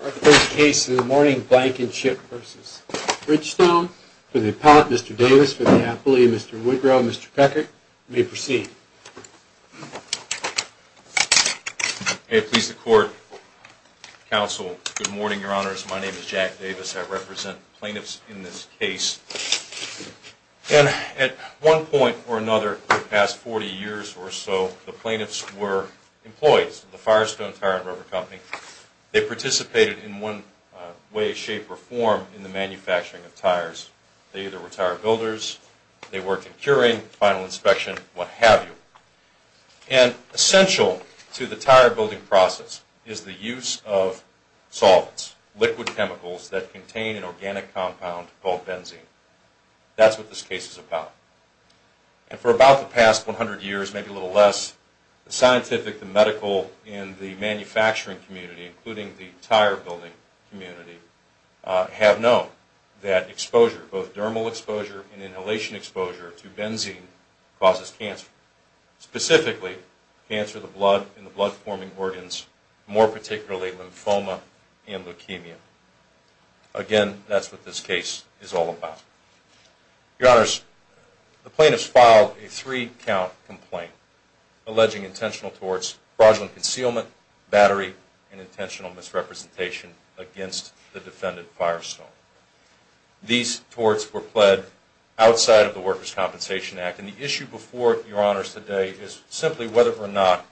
Our first case in the morning is Blankenship v. Bridgestone. For the appellate, Mr. Davis, for the appellee, Mr. Woodrow, Mr. Peckert, you may proceed. May it please the court, counsel, good morning, your honors. My name is Jack Davis. I represent plaintiffs in this case. And at one point or another in the past 40 years or so, the plaintiffs were employees of the Firestone Tire and Rubber Company. They participated in one way, shape, or form in the manufacturing of tires. They either were tire builders, they worked in curing, final inspection, what have you. And essential to the tire building process is the use of solvents, liquid chemicals that contain an organic compound called benzene. That's what this case is about. And for about the past 100 years, maybe a little less, the scientific, the medical, and the manufacturing community, including the tire building community, have known that exposure, both dermal exposure and inhalation exposure to benzene, causes cancer. Specifically, cancer of the blood and the blood forming organs, more particularly lymphoma and leukemia. Again, that's what this case is all about. Your honors, the plaintiffs filed a three-count complaint alleging intentional torts, fraudulent concealment, battery, and intentional misrepresentation against the defendant Firestone. These torts were pled outside of the Workers' Compensation Act. And the issue before your honors today is simply whether or not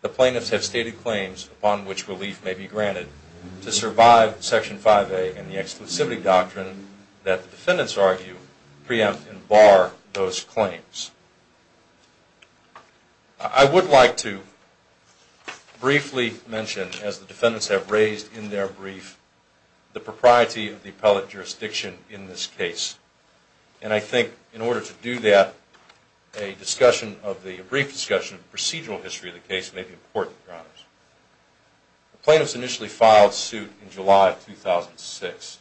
the plaintiffs have stated claims upon which relief may be granted to survive Section 5A and the exclusivity doctrine that the defendants argue preempt and bar those claims. I would like to briefly mention, as the defendants have raised in their brief, the propriety of the appellate jurisdiction in this case. And I think in order to do that, a brief discussion of the procedural history of the case may be important, your honors. The plaintiffs initially filed suit in July of 2006.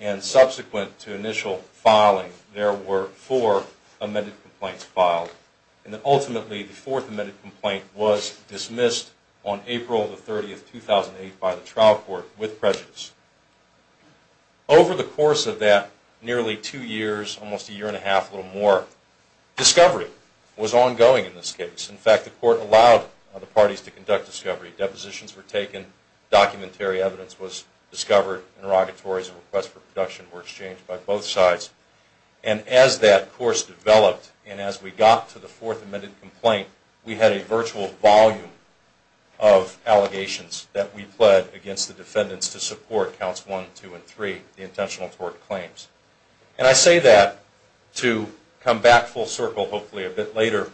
And subsequent to initial filing, there were four amended complaints filed. And ultimately, the fourth amended complaint was dismissed on April 30, 2008, by the trial court with prejudice. Over the course of that nearly two years, almost a year and a half, a little more, discovery was ongoing in this case. In fact, the court allowed the parties to conduct discovery. Depositions were taken. Documentary evidence was discovered. Interrogatories and requests for production were exchanged by both sides. And as that course developed, and as we got to the fourth amended complaint, we had a virtual volume of allegations that we pled against the defendants to support Counts 1, 2, and 3, the intentional tort claims. And I say that to come back full circle, hopefully a bit later,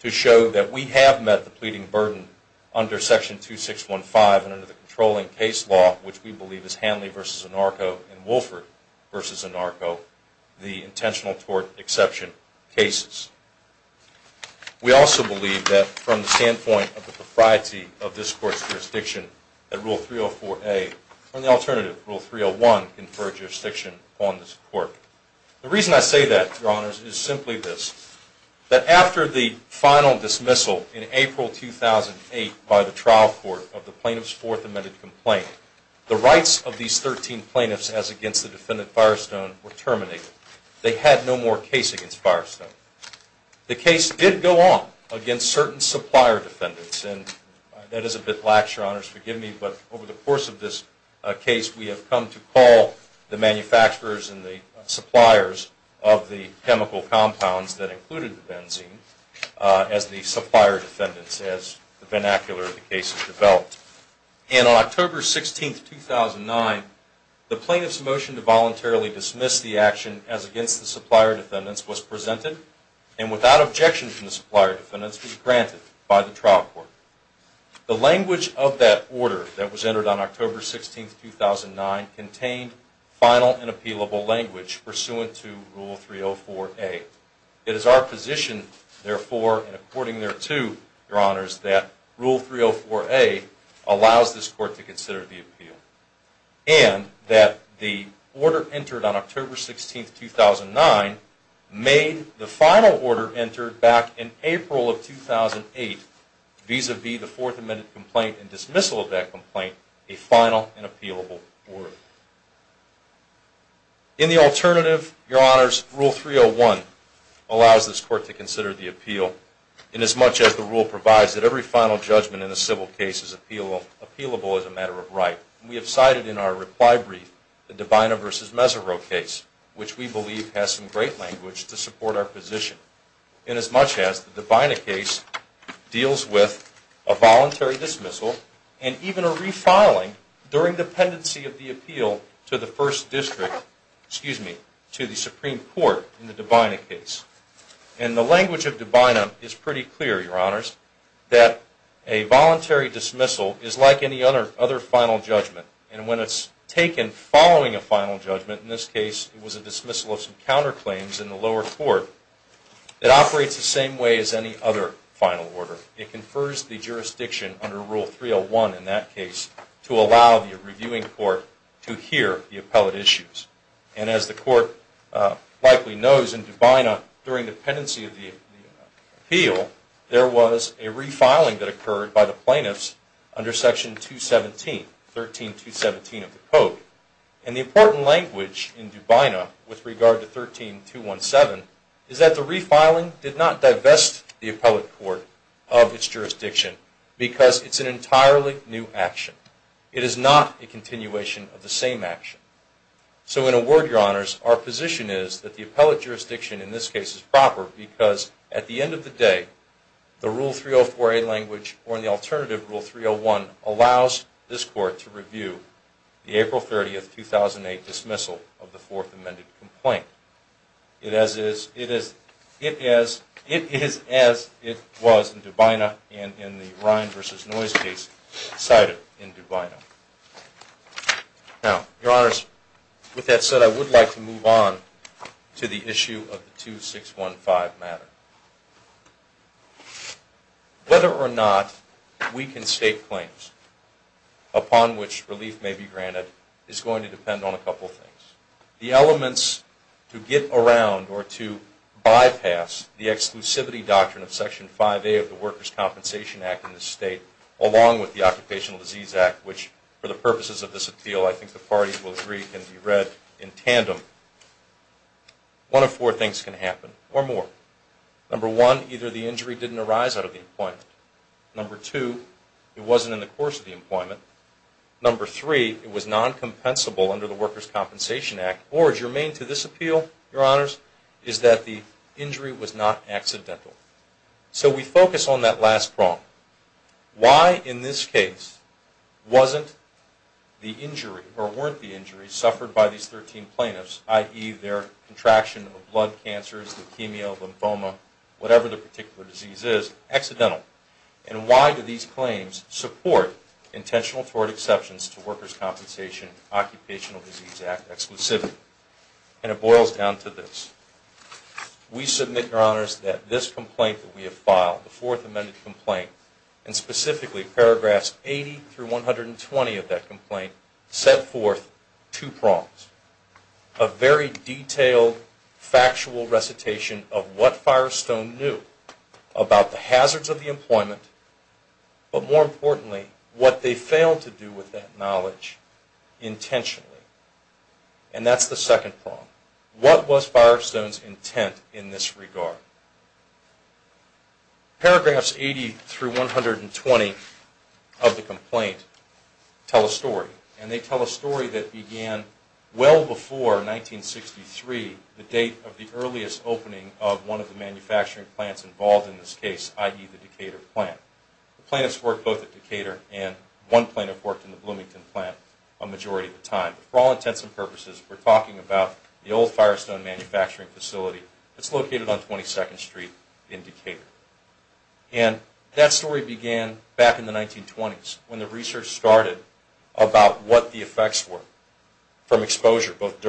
to show that we have met the pleading burden under Section 2615 and under the controlling case law, which we believe is Hanley v. Anarco and Wolford v. Anarco, the intentional tort exception cases. We also believe that from the standpoint of the propriety of this court's jurisdiction, that Rule 304A and the alternative, Rule 301, confer jurisdiction on this court. The reason I say that, Your Honors, is simply this. That after the final dismissal in April 2008 by the trial court of the plaintiff's fourth amended complaint, the rights of these 13 plaintiffs, as against the defendant Firestone, were terminated. They had no more case against Firestone. The case did go on against certain supplier defendants, and that is a bit lax, Your Honors. Forgive me, but over the course of this case, we have come to call the manufacturers and the suppliers of the chemical compounds that included the benzene as the supplier defendants, as the vernacular of the case has developed. And on October 16, 2009, the plaintiff's motion to voluntarily dismiss the action as against the supplier defendants was presented, and without objection from the supplier defendants, was granted by the trial court. The language of that order that was entered on October 16, 2009, contained final and appealable language pursuant to Rule 304A. It is our position, therefore, and according thereto, Your Honors, that Rule 304A allows this court to consider the appeal, and that the order entered on October 16, 2009, made the final order entered back in April of 2008, vis-a-vis the fourth amended complaint and dismissal of that complaint, a final and appealable order. In the alternative, Your Honors, Rule 301 allows this court to consider the appeal, inasmuch as the rule provides that every final judgment in a civil case is appealable as a matter of right. We have cited in our reply brief the Divina v. Meserot case, which we believe has some great language to support our position, inasmuch as the Divina case deals with a voluntary dismissal, and even a refiling during the pendency of the appeal to the Supreme Court in the Divina case. And the language of Divina is pretty clear, Your Honors, that a voluntary dismissal is like any other final judgment, and when it's taken following a final judgment, in this case it was a dismissal of some counterclaims in the lower court, it operates the same way as any other final order. It confers the jurisdiction under Rule 301 in that case to allow the reviewing court to hear the appellate issues. And as the court likely knows, in Divina, during the pendency of the appeal, there was a refiling that occurred by the plaintiffs under Section 217, 13217 of the Code. And the important language in Divina with regard to 13217 is that the refiling did not divest the appellate court of its jurisdiction because it's an entirely new action. It is not a continuation of the same action. So in a word, Your Honors, our position is that the appellate jurisdiction in this case is proper because at the end of the day, the Rule 304A language or the alternative Rule 301 allows this court to review the April 30, 2008 dismissal of the Fourth Amended Complaint. It is as it was in Divina and in the Ryan v. Noyes case cited in Divina. Now, Your Honors, with that said, I would like to move on to the issue of the 2615 matter. Whether or not we can state claims upon which relief may be granted is going to depend on a couple of things. The elements to get around or to bypass the exclusivity doctrine of Section 5A of the Workers' Compensation Act in this State along with the Occupational Disease Act, which for the purposes of this appeal I think the parties will agree can be read in tandem, one of four things can happen or more. Number one, either the injury didn't arise out of the employment. Number two, it wasn't in the course of the employment. Number three, it was non-compensable under the Workers' Compensation Act. Or as your main to this appeal, Your Honors, is that the injury was not accidental. So we focus on that last prong. Why in this case wasn't the injury or weren't the injuries suffered by these 13 plaintiffs, i.e. their contraction of blood cancers, leukemia, lymphoma, whatever the particular disease is, accidental? And why do these claims support intentional tort exceptions to Workers' Compensation Occupational Disease Act And it boils down to this. We submit, Your Honors, that this complaint that we have filed, the Fourth Amended Complaint, and specifically paragraphs 80 through 120 of that complaint, set forth two prongs. A very detailed, factual recitation of what Firestone knew about the hazards of the employment, but more And that's the second prong. What was Firestone's intent in this regard? Paragraphs 80 through 120 of the complaint tell a story. And they tell a story that began well before 1963, the date of the earliest opening of one of the manufacturing plants involved in this case, i.e. the Decatur plant. The plaintiffs worked both at Decatur and one plaintiff worked in the Bloomington plant a majority of the time. For all intents and purposes, we're talking about the old Firestone manufacturing facility that's located on 22nd Street in Decatur. And that story began back in the 1920s when the research started about what the effects were from exposure, both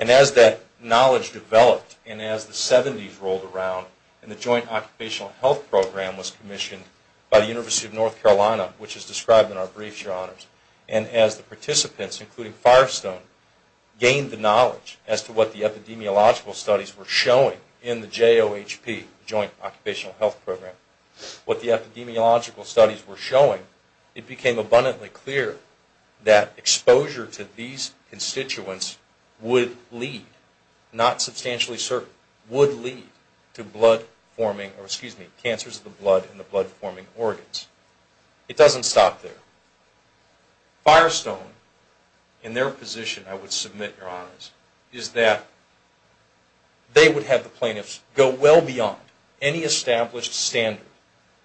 And as that knowledge developed and as the 70s rolled around and the Joint Occupational Health Program was commissioned by the University of North Carolina, which is described in our briefs, Your Honors, and as the participants, including Firestone, gained the knowledge as to what the epidemiological studies were showing in the lead, not substantially certain, would lead to cancers of the blood and the blood-forming organs. It doesn't stop there. Firestone, in their position, I would submit, Your Honors, is that they would have the plaintiffs go well beyond any established standard,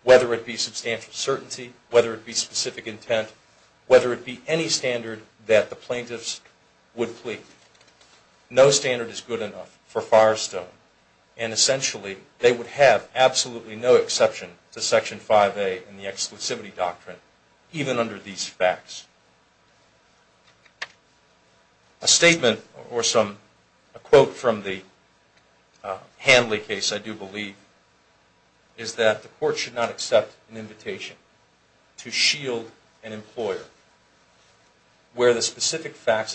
whether it be substantial certainty, whether it be specific intent, whether it be any standard that the plaintiffs would plead. No standard is good enough for Firestone. And essentially, they would have absolutely no exception to Section 5A and the specific facts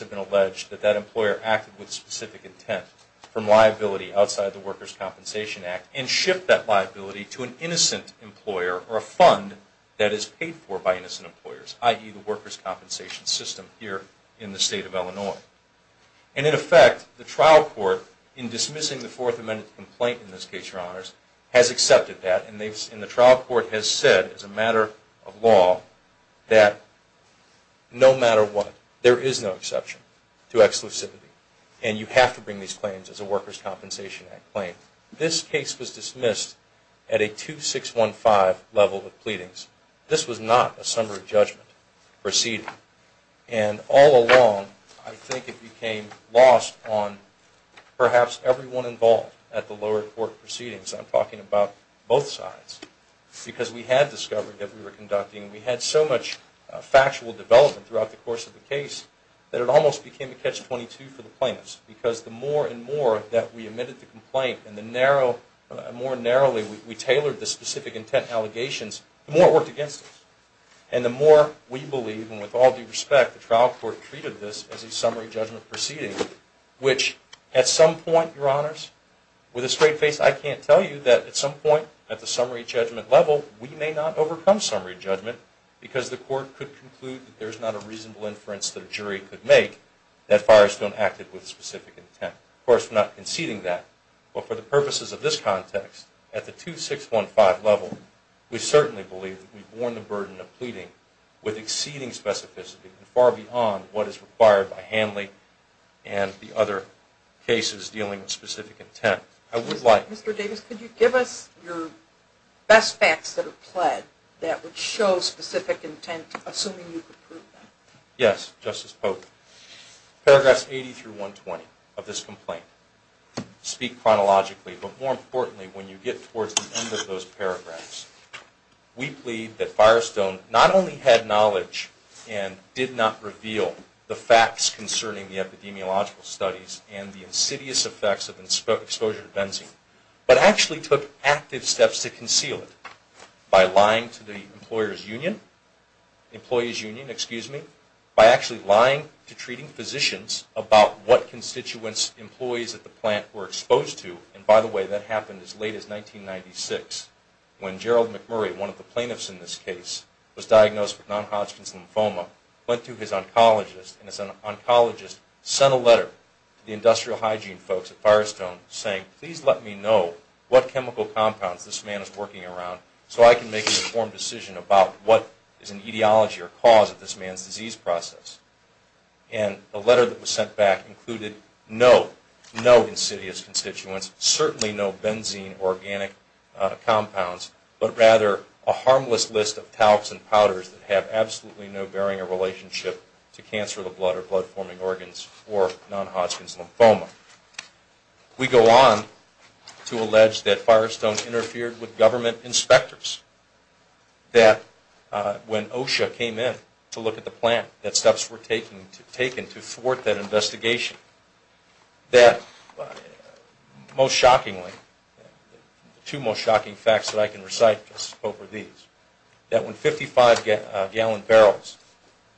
have been alleged that that employer acted with specific intent from liability outside the Workers' Compensation Act and shipped that liability to an innocent employer or a fund that is paid for by innocent employers, i.e., the workers' compensation system here in the State of Illinois. And in effect, the trial court, in no matter what, there is no exception to exclusivity. And you have to bring these claims as a Workers' Compensation Act claim. This case was dismissed at a 2615 level of pleadings. This was not a summary judgment proceeding. And all along, I think it became lost on perhaps everyone involved at the lower court proceedings. I'm talking about both sides. Because we had discovered that we were conducting, we had so much factual development throughout the course of the case, that it almost became a catch-22 for the plaintiffs. Because the more and more that we admitted the complaint and the narrow, more narrowly we tailored the specific intent allegations, the more it worked against us. And the more we believe, and with all due respect, the trial court treated this as a summary judgment proceeding, which at some point, Your Honors, with a straight face, I can't tell you that at some point at the summary judgment level, we may not overcome summary judgment because the court could conclude that there's not a reasonable inference that a jury could make that Firestone acted with a specific intent. Of course, we're not conceding that. But for the purposes of this context, at the 2615 level, we certainly believe that we've borne the burden of pleading with exceeding specificity and far beyond what is required by Hanley and the other cases dealing with that. Mr. Davis, could you give us your best facts that are pled that would show specific intent, assuming you could prove that? Yes, Justice Pope. Paragraphs 80 through 120 of this complaint speak chronologically. But more importantly, when you get towards the end of those paragraphs, we plead that Firestone not only had knowledge and did not reveal the facts concerning the epidemiological studies and the insidious effects of exposure to benzene, but actually took active steps to conceal it by lying to the employers union, employees union, excuse me, by actually lying to treating physicians about what constituents employees at the plant were exposed to. And by the way, that happened as late as 1996 when Gerald McMurray, one of the plaintiffs in this case, was diagnosed with non-Hodgkin's lymphoma, went to his oncologist and his oncologist sent a letter to the industrial hygiene folks at Firestone saying, please let me know what chemical compounds this man is working around so I can decision about what is an etiology or cause of this man's disease process. And the letter that was sent back included no, no insidious constituents, certainly no benzene organic compounds, but rather a harmless list of talcs and powders that have absolutely no bearing or relationship to cancer of the blood or blood forming organs or non-Hodgkin's that when OSHA came in to look at the plant, that steps were taken to thwart that investigation, that most shockingly, the two most shocking facts that I can recite just over these, that when 55 gallon barrels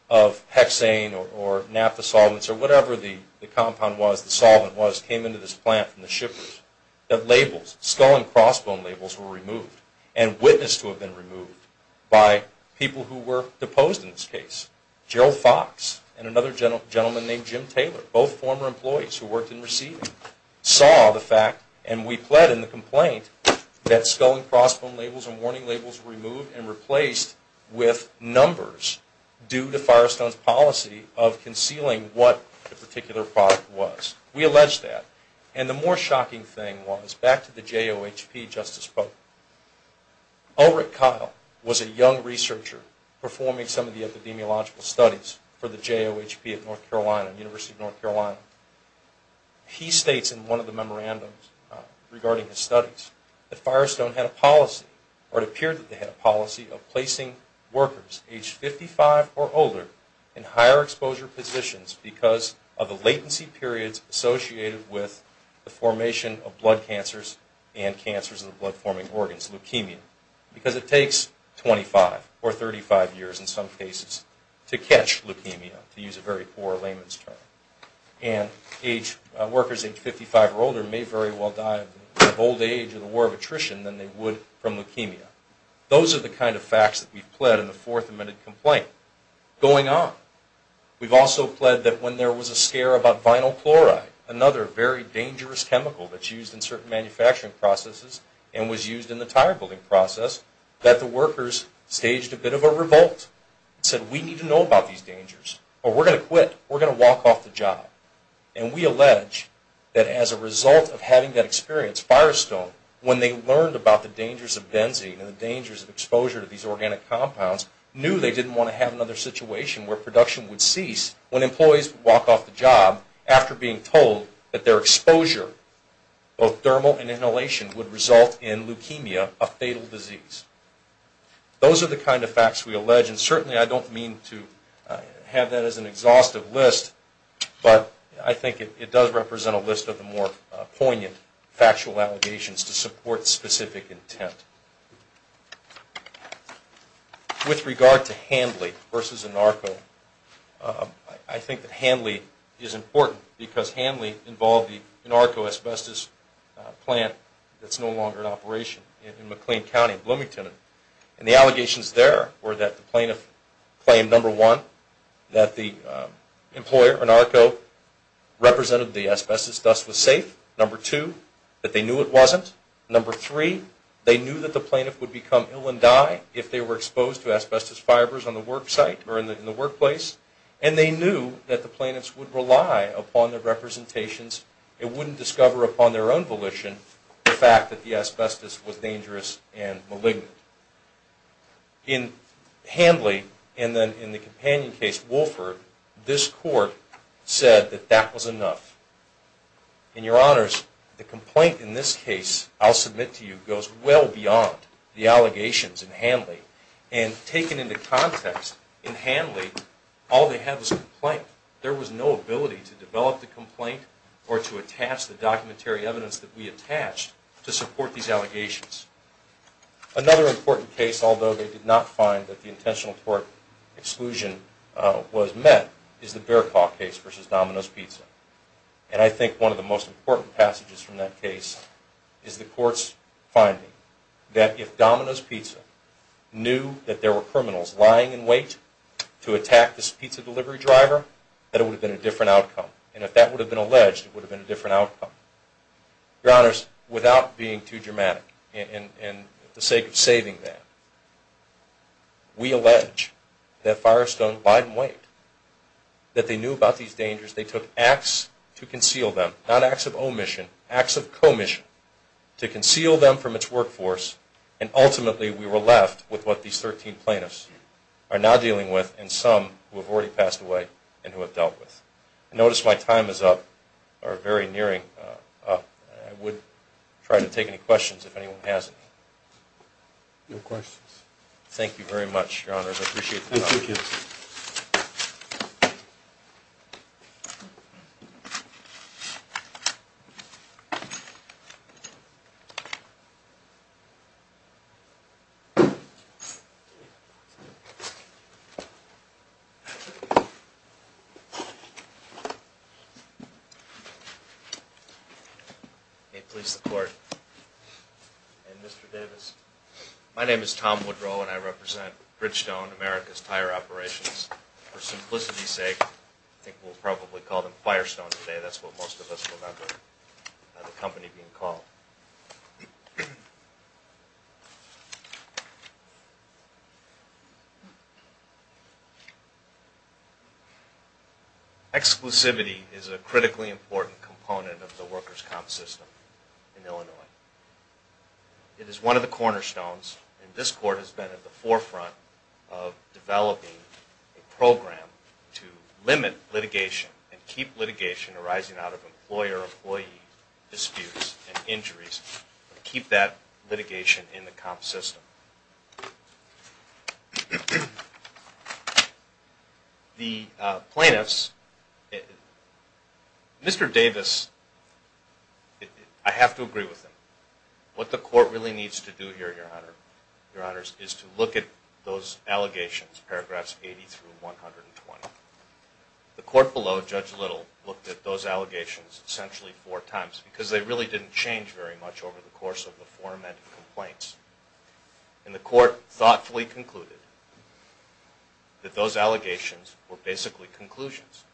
of hexane or naphtha solvents or whatever the compound was, the solvent was, came into this plant from the shippers, that labels, skull and crossbone labels were removed and witnessed to have been removed by people who were deposed in this case. Gerald Fox and another gentleman named Jim Taylor, both former employees who worked in receiving, saw the fact and we pled in the complaint that skull and crossbone labels and warning labels were removed and replaced with O. Rick Kyle was a young researcher performing some of the epidemiological studies for the JOHP at North Carolina, University of North Carolina. He states in one of the memorandums regarding his studies that Firestone had a policy or it appeared that they had a policy of placing workers age 55 or older in higher exposure positions because of cancers of the blood forming organs, leukemia, because it takes 25 or 35 years in some cases to catch leukemia, to use a very poor layman's term. And workers age 55 or older may very well die of old age or the war of attrition than they would from leukemia. Those are the kind of facts that we've pled in the fourth amended and was used in the tire building process that the workers staged a bit of a revolt and said we need to know about these dangers or we're going to quit, we're going to walk off the job. And we allege that as a result of having that experience, Firestone, when they learned about the dangers of benzene and the dangers of exposure to these organic compounds, knew they didn't want to have another situation where production would cease when employees walk off the job after being told that their exposure, both exposure and inhalation, would result in leukemia, a fatal disease. Those are the kind of facts we allege and certainly I don't mean to have that as an exhaustive list, but I think it does represent a list of the more poignant factual allegations to support specific intent. With regard to Hanley versus Anarco, I think that Hanley is important because Hanley involved the Anarco asbestos plant that's no longer in operation in McLean County, Bloomington. And the allegations there were that the plaintiff claimed, number one, that the employer, Anarco, represented the asbestos thus was safe. Number two, that they knew it wasn't. Number three, they knew that the plaintiff would become ill and die if they were wouldn't discover upon their own volition the fact that the asbestos was dangerous and malignant. In Hanley and then in the companion case, Wolford, this court said that that was enough. In your honors, the complaint in this case I'll submit to you goes well beyond the allegations in Hanley. And taken into context, in Hanley all they had was complaint. There was no ability to file a complaint or to attach the documentary evidence that we attached to support these allegations. Another important case, although they did not find that the intentional tort exclusion was met, is the Bearclaw case versus Domino's Pizza. And I think one of the most important passages from that case is the court's finding that if Domino's Pizza knew that there were criminals lying in wait to attack this pizza delivery driver, that it would have been a different outcome. And if that would have been alleged, it would have been a different outcome. Your honors, without being too dramatic and for the sake of saving that, we allege that Firestone lied in wait, that they knew about these dangers, they took acts to conceal them, not acts of omission, acts of commission to conceal them from its dealt with. I notice my time is up, or very nearing up. I would try to take any questions if anyone has any. No questions. Thank you very much, your honors. I appreciate the time. May it please the court. And Mr. Davis. My name is Tom Woodrow and I represent Bridgestone, America's Tire Operations. For simplicity's sake, I think we'll probably call them Firestone today. That's what most of us remember the company being called. Exclusivity is a critically important component of the workers' comp system in Illinois. It is one of the cornerstones and this court has been at the of employer-employee disputes and injuries to keep that litigation in the comp system. The plaintiffs, Mr. Davis, I have to agree with him. What the court really needs to do here, your honors, is to look at those essentially four times because they really didn't change very much over the course of the four amended complaints. And the court thoughtfully concluded that those allegations were basically conclusions.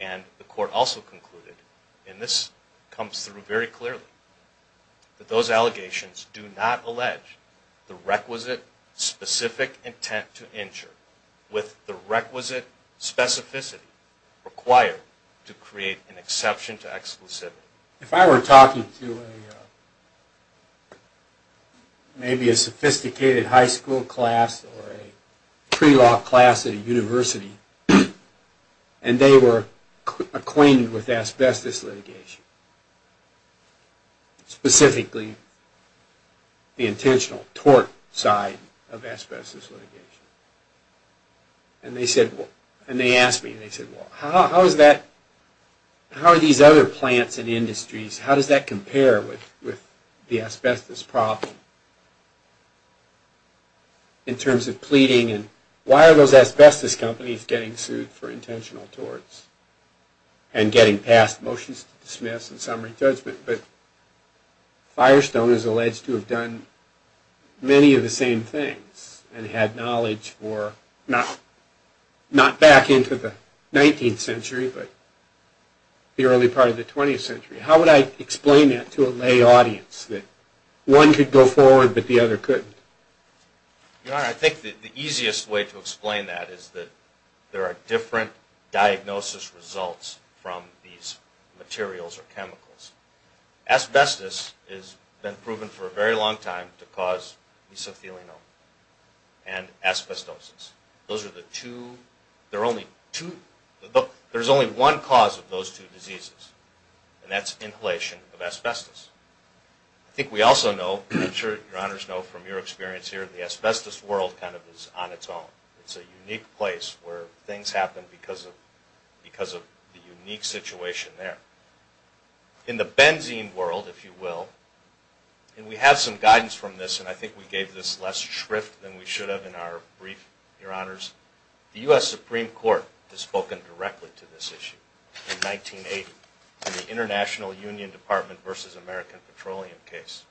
And the court also concluded, and this comes through very clearly, that those allegations do not allege the requisite specific intent to injure with the requisite specificity required to create an exception to exclusivity. If I were talking to maybe a sophisticated high school class or a pre-law class at a university and they were acquainted with asbestos litigation, specifically the intentional tort side of asbestos litigation, and they asked me, how are these other plants and industries, how does that compare with the asbestos problem in terms of pleading and why are those asbestos companies getting sued for intentional but Firestone is alleged to have done many of the same things and had knowledge for not back into the 19th century but the early part of the 20th century. How would I explain that to a lay audience that one could go forward but the other couldn't? Your Honor, I think the easiest way to explain that is that there are different diagnosis results from these materials or chemicals. Asbestos has been proven for a very long time to cause mesothelial and asbestosis. There's only one cause of those two diseases and that's inhalation of asbestos. I think we also know, I'm sure Your Honors know from your experience here, the asbestos world kind of is on its own. It's a unique place where things happen because of the unique situation there. In the benzene world, if you will, and we have some guidance from this and I think we gave this less shrift than we should have in our brief, Your Honors, the U.S. Supreme Court has spoken directly to this issue. In 1980, in the International Union Department versus American Petroleum case.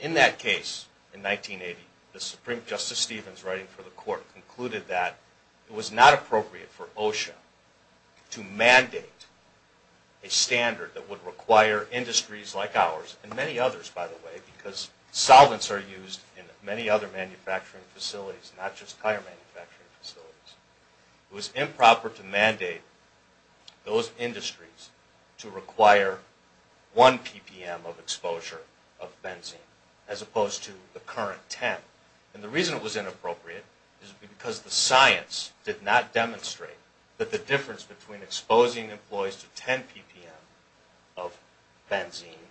In that case, in 1980, the Supreme Justice Stevens writing for the court concluded that it was not appropriate for OSHA to mandate a standard that would require industries like ours, and many others by the way, because solvents are used in many other manufacturing facilities, not just tire manufacturing facilities. It was improper to mandate those industries to require 1 ppm of exposure of benzene as opposed to the current 10. And the reason it was inappropriate is because the science did not demonstrate that the difference between exposing employees to 10 ppm of benzene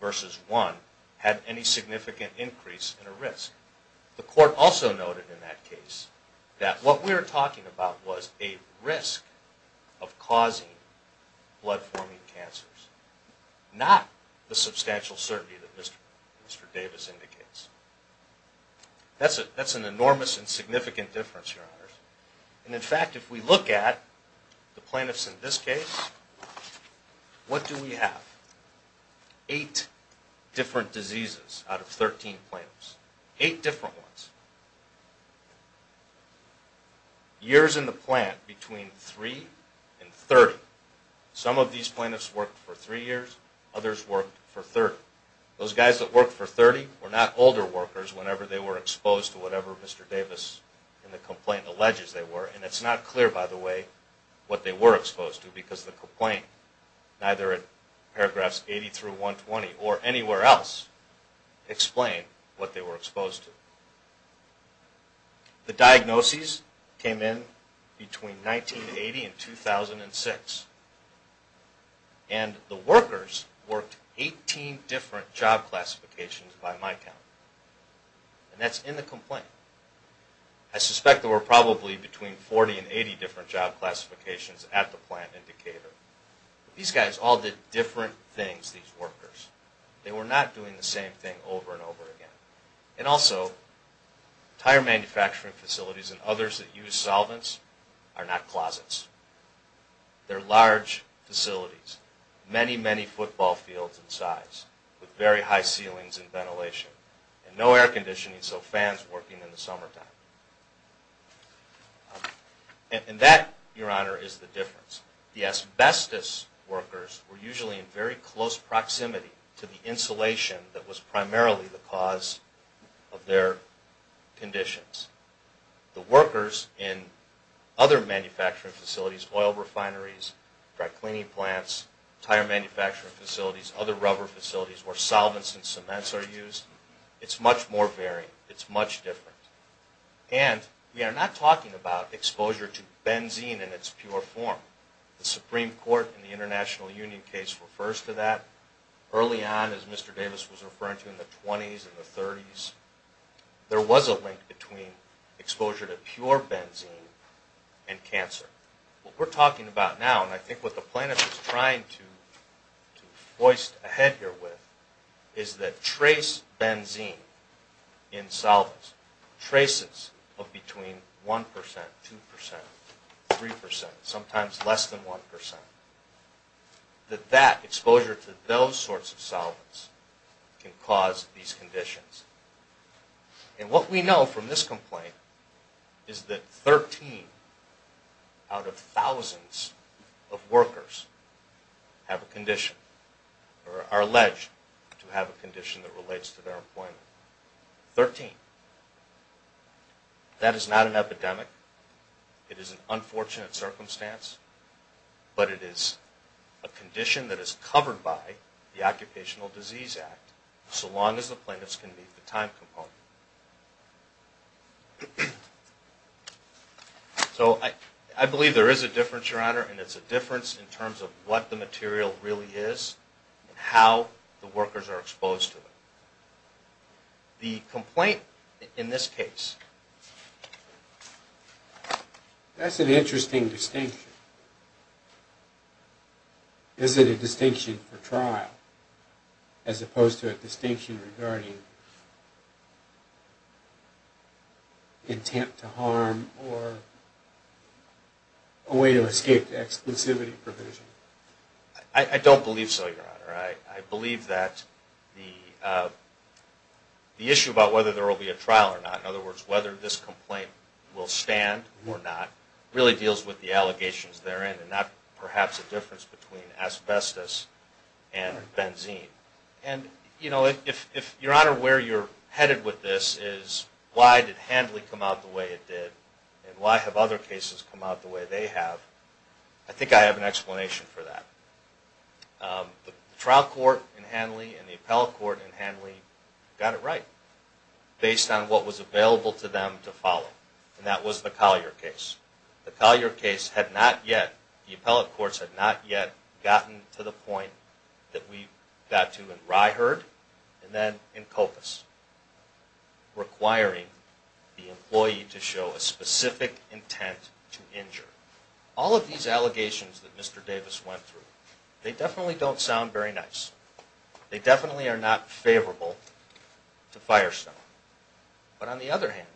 versus 1 had any significant increase in a risk. The court also noted in that case that what we were talking about was a risk of causing blood-forming cancers, not the substantial certainty that Mr. Davis indicates. That's an enormous and significant difference, Your Honors. And in fact, if we look at the plaintiffs in this case, what do we have? Eight different diseases out of 13 plaintiffs. Eight different ones. Years in the plant between 3 and 30. Some of these plaintiffs worked for 3 years, others worked for 30. Those guys that worked for 30 were not older workers whenever they were exposed to whatever Mr. Davis in the complaint alleges they were. And it's not clear, by the way, what they were exposed to because the complaint, neither in paragraphs 80 through 120 or anywhere else, explain what they were exposed to. The diagnoses came in between 1980 and 2006. And the workers worked 18 different job classifications by my count. And that's in the complaint. I suspect there were probably between 40 and 80 different job classifications at the plant in Decatur. These guys all did different things, these workers. They were not doing the same thing over and over again. And also, tire manufacturing facilities and others that use solvents are not closets. They're large facilities. Many, many football fields in size with very high ceilings and ventilation and no air conditioning so fans working in the summertime. And that, Your Honor, is the difference. The asbestos workers were usually in very close proximity to the insulation that was primarily the cause of their conditions. The workers in other manufacturing facilities, oil refineries, dry cleaning plants, tire manufacturing facilities, other rubber facilities where solvents and cements are used, it's much more varied. It's much different. And we are not talking about exposure to benzene in its pure form. The Supreme Court in the International Union case refers to that. Early on, as Mr. Davis was referring to in the 20s and the 30s, there was a link between exposure to pure benzene and cancer. What we're talking about now, and I think what the plaintiff is trying to hoist ahead here with, is that trace benzene in solvents, traces of between 1%, 2%, 3%, sometimes less than 1%, that exposure to those sorts of solvents can cause these conditions. And what we know from this complaint is that 13 out of thousands of workers have a condition or are alleged to have a condition that relates to their employment. 13. That is not an epidemic. It is an unfortunate circumstance. But it is a condition that is covered by the Occupational Disease Act so long as the plaintiffs can meet the time component. So I believe there is a difference, Your Honor, and it's a difference in terms of what the material really is and how the workers are exposed to it. The complaint in this case, that's an interesting distinction. Is it a distinction for trial as opposed to a distinction regarding intent to harm or a way to escape exclusivity provision? I don't believe so, Your Honor. I believe that the issue about whether there will be a trial or not, in other words, whether this complaint will stand or not, really deals with the allegations therein and not perhaps a difference between asbestos and benzene. And if, Your Honor, where you're headed with this is why did Hanley come out the way it did and why have other cases come out the way they have, I think I have an explanation for that. The trial court in Hanley and the appellate court in Hanley got it right based on what was available to them to follow. And that was the Collier case. The Collier case had not yet, the appellate courts had not yet gotten to the point that we got to in Ryherd and then in Copas requiring the employee to show a specific intent to injure. All of these allegations that Mr. Davis went through, they definitely don't sound very nice. They definitely are not favorable to Firestone. But on the other hand,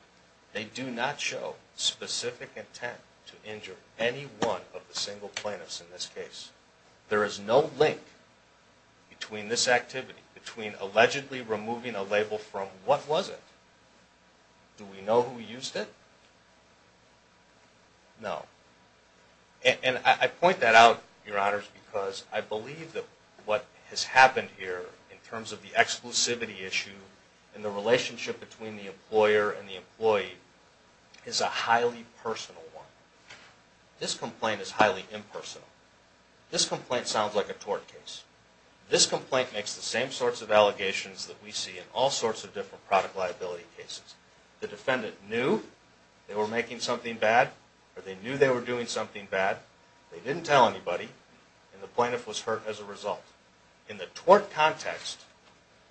they do not show specific intent to injure any one of the single plaintiffs in this case. There is no link between this activity, between allegedly removing a label from what was it. Do we know who used it? No. And I point that out, Your Honors, because I believe that what has happened here in terms of the exclusivity issue and the relationship between the employer and the employee is a highly personal one. This complaint is highly impersonal. This complaint sounds like a tort case. This complaint makes the same sorts of allegations that we see in all sorts of different product liability cases. The defendant knew they were making something bad or they knew they were doing something bad. They didn't tell anybody and the plaintiff was hurt as a result. In the tort context,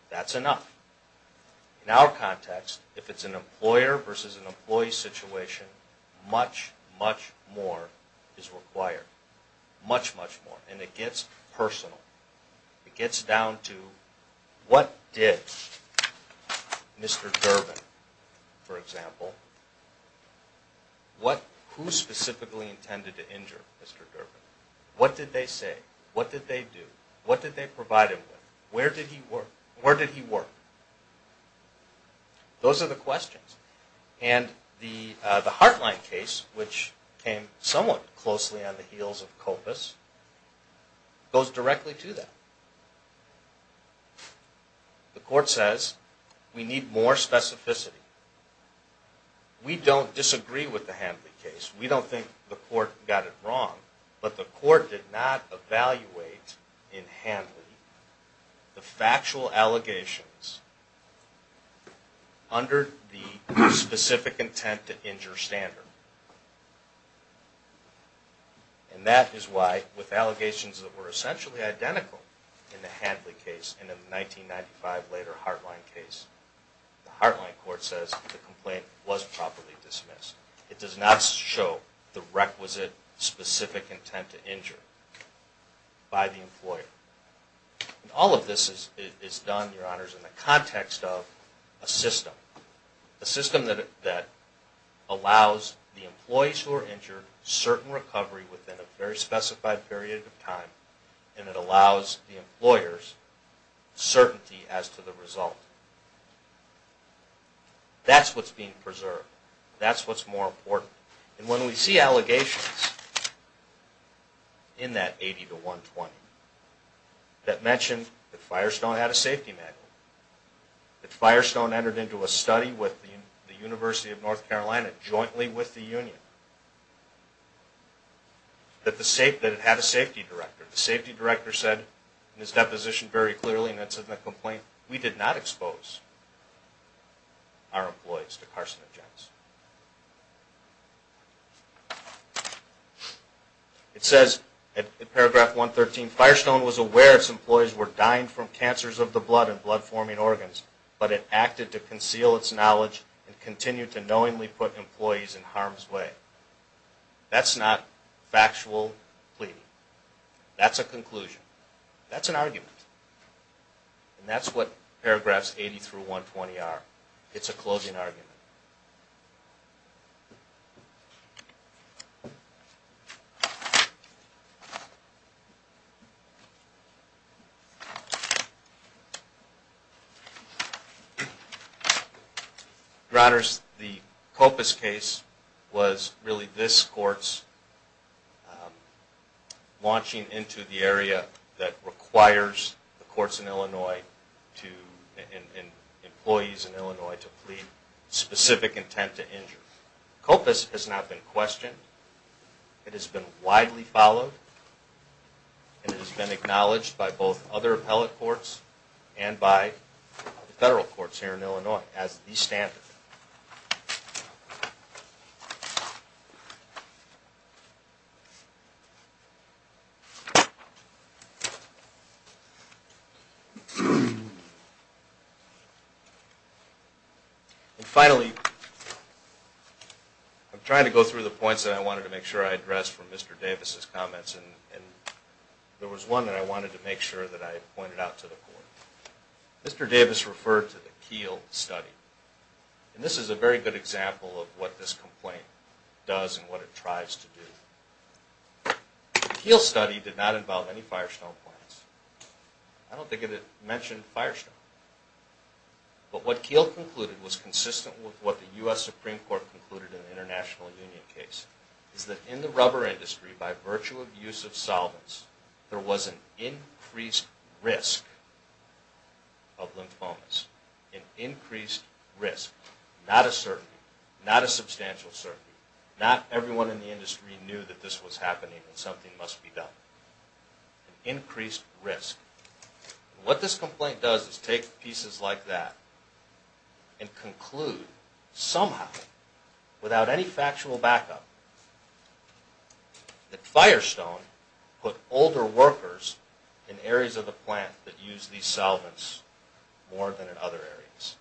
that's enough. In our context, if it's an employer versus an employee situation, much, much more is required. Much, much more. And it gets personal. It gets down to what did Mr. Durbin, for example, who specifically intended to injure Mr. Durbin? What did they say? What did they do? What did they provide him with? Where did he work? Those are the questions. And the Heartline case, which came somewhat closely on the heels of COPAS, goes directly to that. The court says we need more specificity. We don't disagree with the Hanley case. We don't think the court got it wrong. But the court did not evaluate in Hanley the factual allegations under the specific intent to injure standard. And that is why with allegations that were essentially identical in the Hanley case and the 1995 later Heartline case, the Heartline court says the complaint was properly dismissed. It does not show the requisite specific intent to injure by the employer. All of this is done, Your Honors, in the context of a system. A system that allows the employees who are injured certain recovery within a very specified period of time and it allows the employers certainty as to the result. That's what's being preserved. That's what's more important. And when we see allegations in that 80 to 120 that mention that Firestone had a safety manual, that Firestone entered into a study with the University of North Carolina jointly with the union, that it had a safety director. The safety director said in his deposition very clearly and that's in the complaint, we did not expose our employees to carcinogens. It says in paragraph 113, Firestone was aware its employees were dying from cancers of the blood and blood forming organs, but it acted to conceal its knowledge and continued to knowingly put employees in harm's way. That's not factual pleading. That's a conclusion. That's an argument. And that's what paragraphs 80 through 120 are. It's a closing argument. Your Honors, the Copas case was really this court's launching into the area that requires the courts in Illinois to, and employees in Illinois, to plead specific cases. Copas has not been questioned. It has been widely followed and it has been acknowledged by both other appellate courts and by the federal courts here in Illinois as the standard. And finally, I'm trying to go through the points that I wanted to make sure I addressed from Mr. Davis' comments and there was one that I wanted to make sure that I pointed out to the court. Mr. Davis referred to the Keele study and this is a very good example of what this complaint does and what it tries to do. The Keele study did not involve any Firestone plants. I don't think it mentioned Firestone. But what Keele concluded was consistent with what the U.S. Supreme Court concluded in the International Union case is that in the rubber industry, by virtue of use of solvents, there was an increased risk of lymphomas. An increased risk. Not a certainty. Not a substantial certainty. Not everyone in the industry knew that this was happening and something must be done. An increased risk. What this complaint does is take pieces like that and conclude somehow, without any factual backup, that Firestone put older workers in areas of the plant that use these solvents more than in other areas.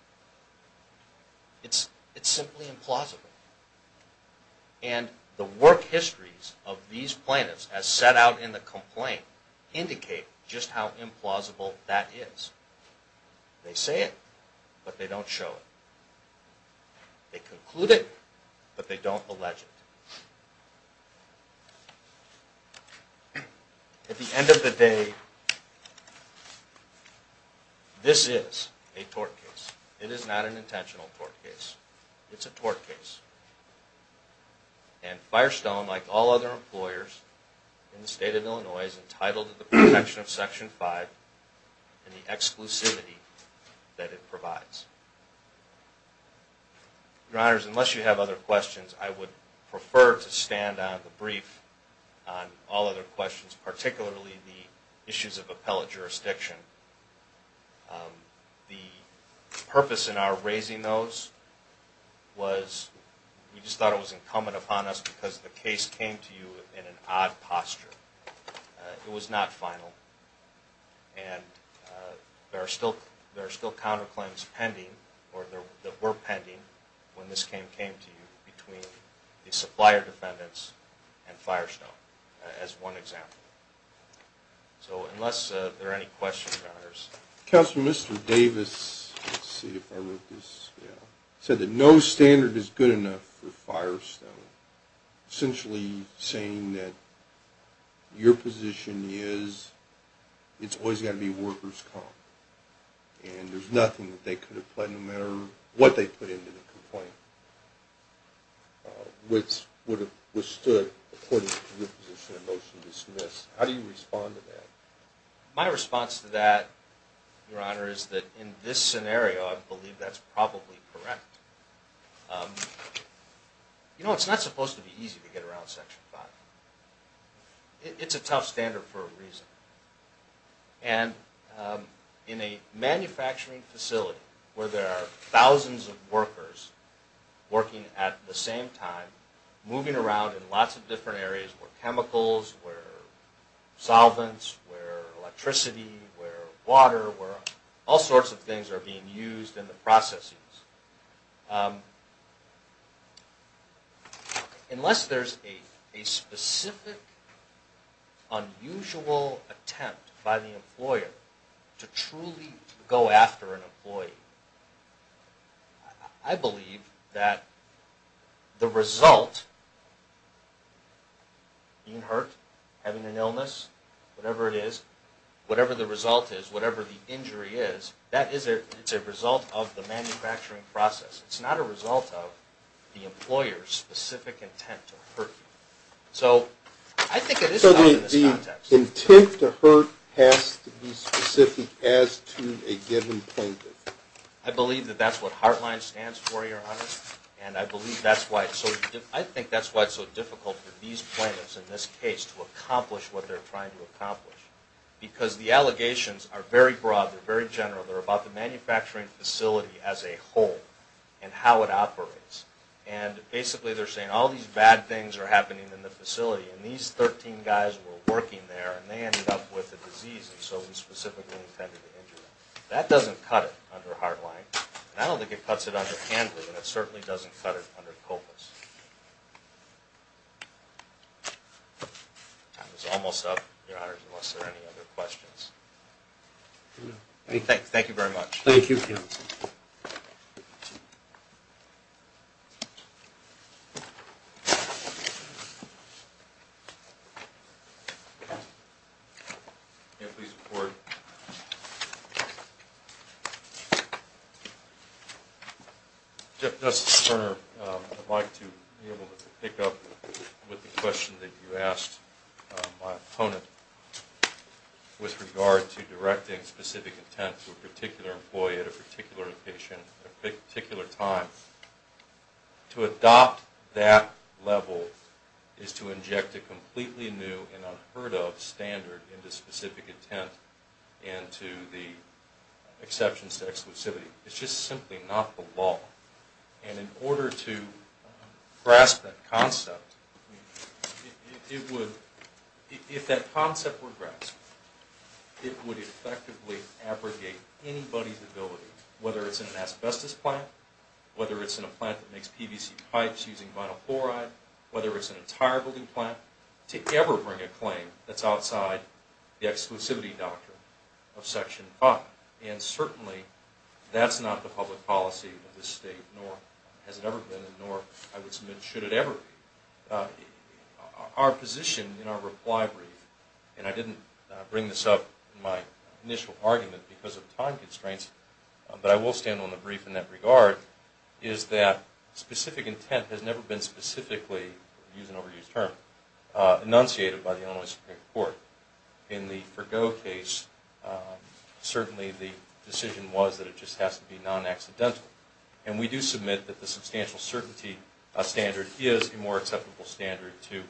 It's simply implausible. And the work histories of these plaintiffs as set out in the complaint indicate just how implausible that is. They say it, but they don't show it. They conclude it, but they don't allege it. At the end of the day, this is a tort case. It is not an intentional tort case. It's a tort case. And Firestone, like all other employers in the state of Illinois, is entitled to the protection of Section 5 and the exclusivity that it provides. Your Honors, unless you have other questions, I would prefer to stand on the brief on all other questions, particularly the issues of appellate jurisdiction. The purpose in our raising those was we just thought it was incumbent upon us because the case came to you in an odd posture. It was not final. And there are still counterclaims pending, or that were pending, when this came to you between the supplier defendants and Firestone, as one example. So unless there are any questions, Your Honors. Counselor, Mr. Davis said that no standard is good enough for Firestone, essentially saying that your position is it's always got to be workers' comp. And there's nothing that they could have pledged, no matter what they put into the complaint, which would have withstood, according to your position, a motion to dismiss. How do you respond to that? My response to that, Your Honor, is that in this scenario, I believe that's probably correct. You know, it's not supposed to be easy to get around Section 5. It's a tough standard for a reason. And in a manufacturing facility where there are thousands of workers working at the same time, moving around in lots of different areas where chemicals, where solvents, where electricity, where water, where all sorts of things are being used in the processes. Unless there's a specific, unusual attempt by the employer to truly go after an employee, I believe that the result, being hurt, having an illness, whatever it is, whatever the result is, whatever the injury is, that is a result of the manufacturing facility. It's not a result of the employer's specific intent to hurt you. So I think it is tough in this context. So the intent to hurt has to be specific as to a given plaintiff? I believe that that's what HEARTLINE stands for, Your Honor. And I believe that's why it's so – I think that's why it's so difficult for these plaintiffs in this case to accomplish what they're trying to accomplish. Because the allegations are very broad, they're very general. They're about the manufacturing facility as a whole and how it operates. And basically they're saying all these bad things are happening in the facility and these 13 guys were working there and they ended up with a disease and so we specifically intended to injure them. That doesn't cut it under HEARTLINE, and I don't think it cuts it under HANDLER, and it certainly doesn't cut it under COPUS. Time is almost up, Your Honor, unless there are any other questions. Thank you very much. Thank you. May I please report? Justice Turner, I'd like to be able to pick up with the question that you asked my opponent with regard to directing specific intent to a particular employee at a particular location at a particular time. To adopt that level is to inject a completely new and unheard of standard into specific intent and to the exceptions to exclusivity. It's just simply not the law. And in order to grasp that concept, if that concept were grasped, it would effectively abrogate anybody's ability, whether it's in an asbestos plant, whether it's in a plant that makes PVC pipes using vinyl chloride, whether it's an entire building plant, to ever bring a claim that's outside the exclusivity doctrine of Section 5. And certainly that's not the public policy of this State, nor has it ever been, nor I would submit should it ever be. Our position in our reply brief, and I didn't bring this up in my initial argument because of time constraints, but I will stand on the brief in that regard, is that specific intent has never been specifically, to use an overused term, enunciated by the Illinois Supreme Court. In the Fergot case, certainly the decision was that it just has to be non-accidental. And we do submit that the substantial certainty standard is a more acceptable standard to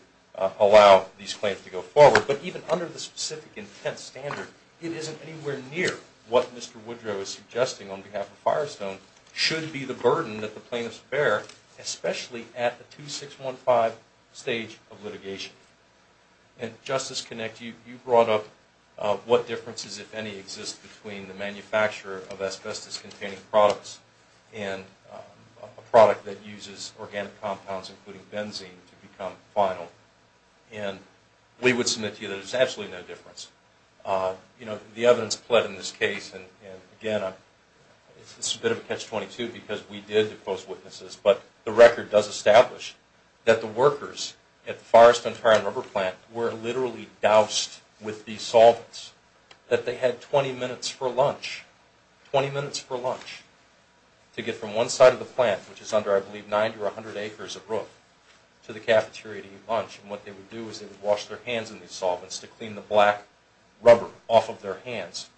allow these claims to go forward. But even under the specific intent standard, it isn't anywhere near what Mr. Woodrow is suggesting on behalf of Firestone should be the burden that the plaintiffs bear, especially at the 2615 stage of litigation. And Justice Connick, you brought up what differences, if any, exist between the manufacturer of asbestos-containing products and a product that uses organic compounds, including benzene, to become vinyl. And we would submit to you that there's absolutely no difference. You know, the evidence pled in this case, and again, it's a bit of a catch-22 because we did post witnesses, but the record does establish that the workers at the Firestone Tire and Rubber plant were literally doused with these solvents, that they had 20 minutes for lunch, 20 minutes for lunch, to get from one side of the plant, which is under, I believe, 90 or 100 acres of roof, to the cafeteria to eat lunch. And what they would do is they would wash their hands in these solvents to clean the black rubber off of their hands.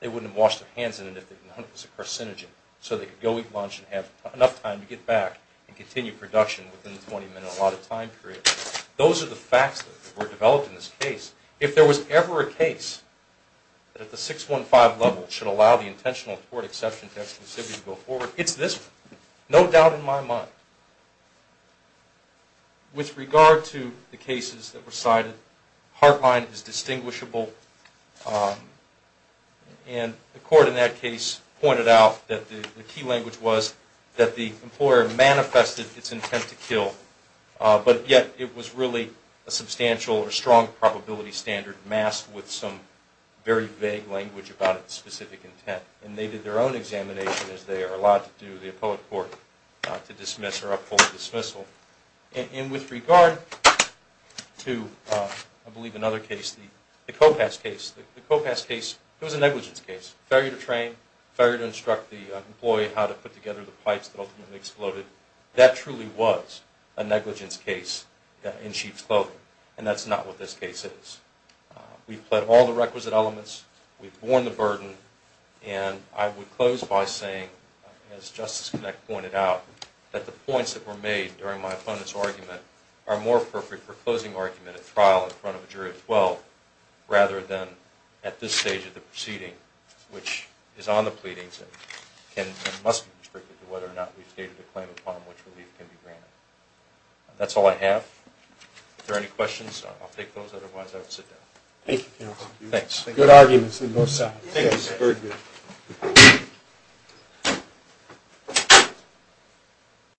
They wouldn't have washed their hands in it if they'd known it was a carcinogen, so they could go eat lunch and have enough time to get back and continue production within the 20-minute allotted time period. Those are the facts that were developed in this case. If there was ever a case that at the 615 level should allow the intentional court exception to exclusivity to go forward, it's this one, no doubt in my mind. With regard to the cases that were cited, Harpine is distinguishable, and the court in that case pointed out that the key language was that the employer manifested its intent to kill, but yet it was really a substantial or strong probability standard masked with some very vague language about its specific intent. And they did their own examination, as they are allowed to do, the appellate court, to dismiss or uphold dismissal. And with regard to, I believe, another case, the Kopass case, the Kopass case, it was a negligence case. Failure to train, failure to instruct the employee how to put together the pipes that ultimately exploded. That truly was a negligence case in sheep's clothing, and that's not what this case is. We've pled all the requisite elements. We've borne the burden. And I would close by saying, as Justice Knecht pointed out, that the points that were made during my opponent's argument are more perfect for closing argument at trial in front of a jury of 12, rather than at this stage of the proceeding, which is on the pleadings and must be restricted to whether or not we've stated a claim upon which relief can be granted. That's all I have. If there are any questions, I'll take those. Otherwise, I will sit down. Thank you, counsel. Thanks. Good arguments on both sides. Thank you, sir. Very good.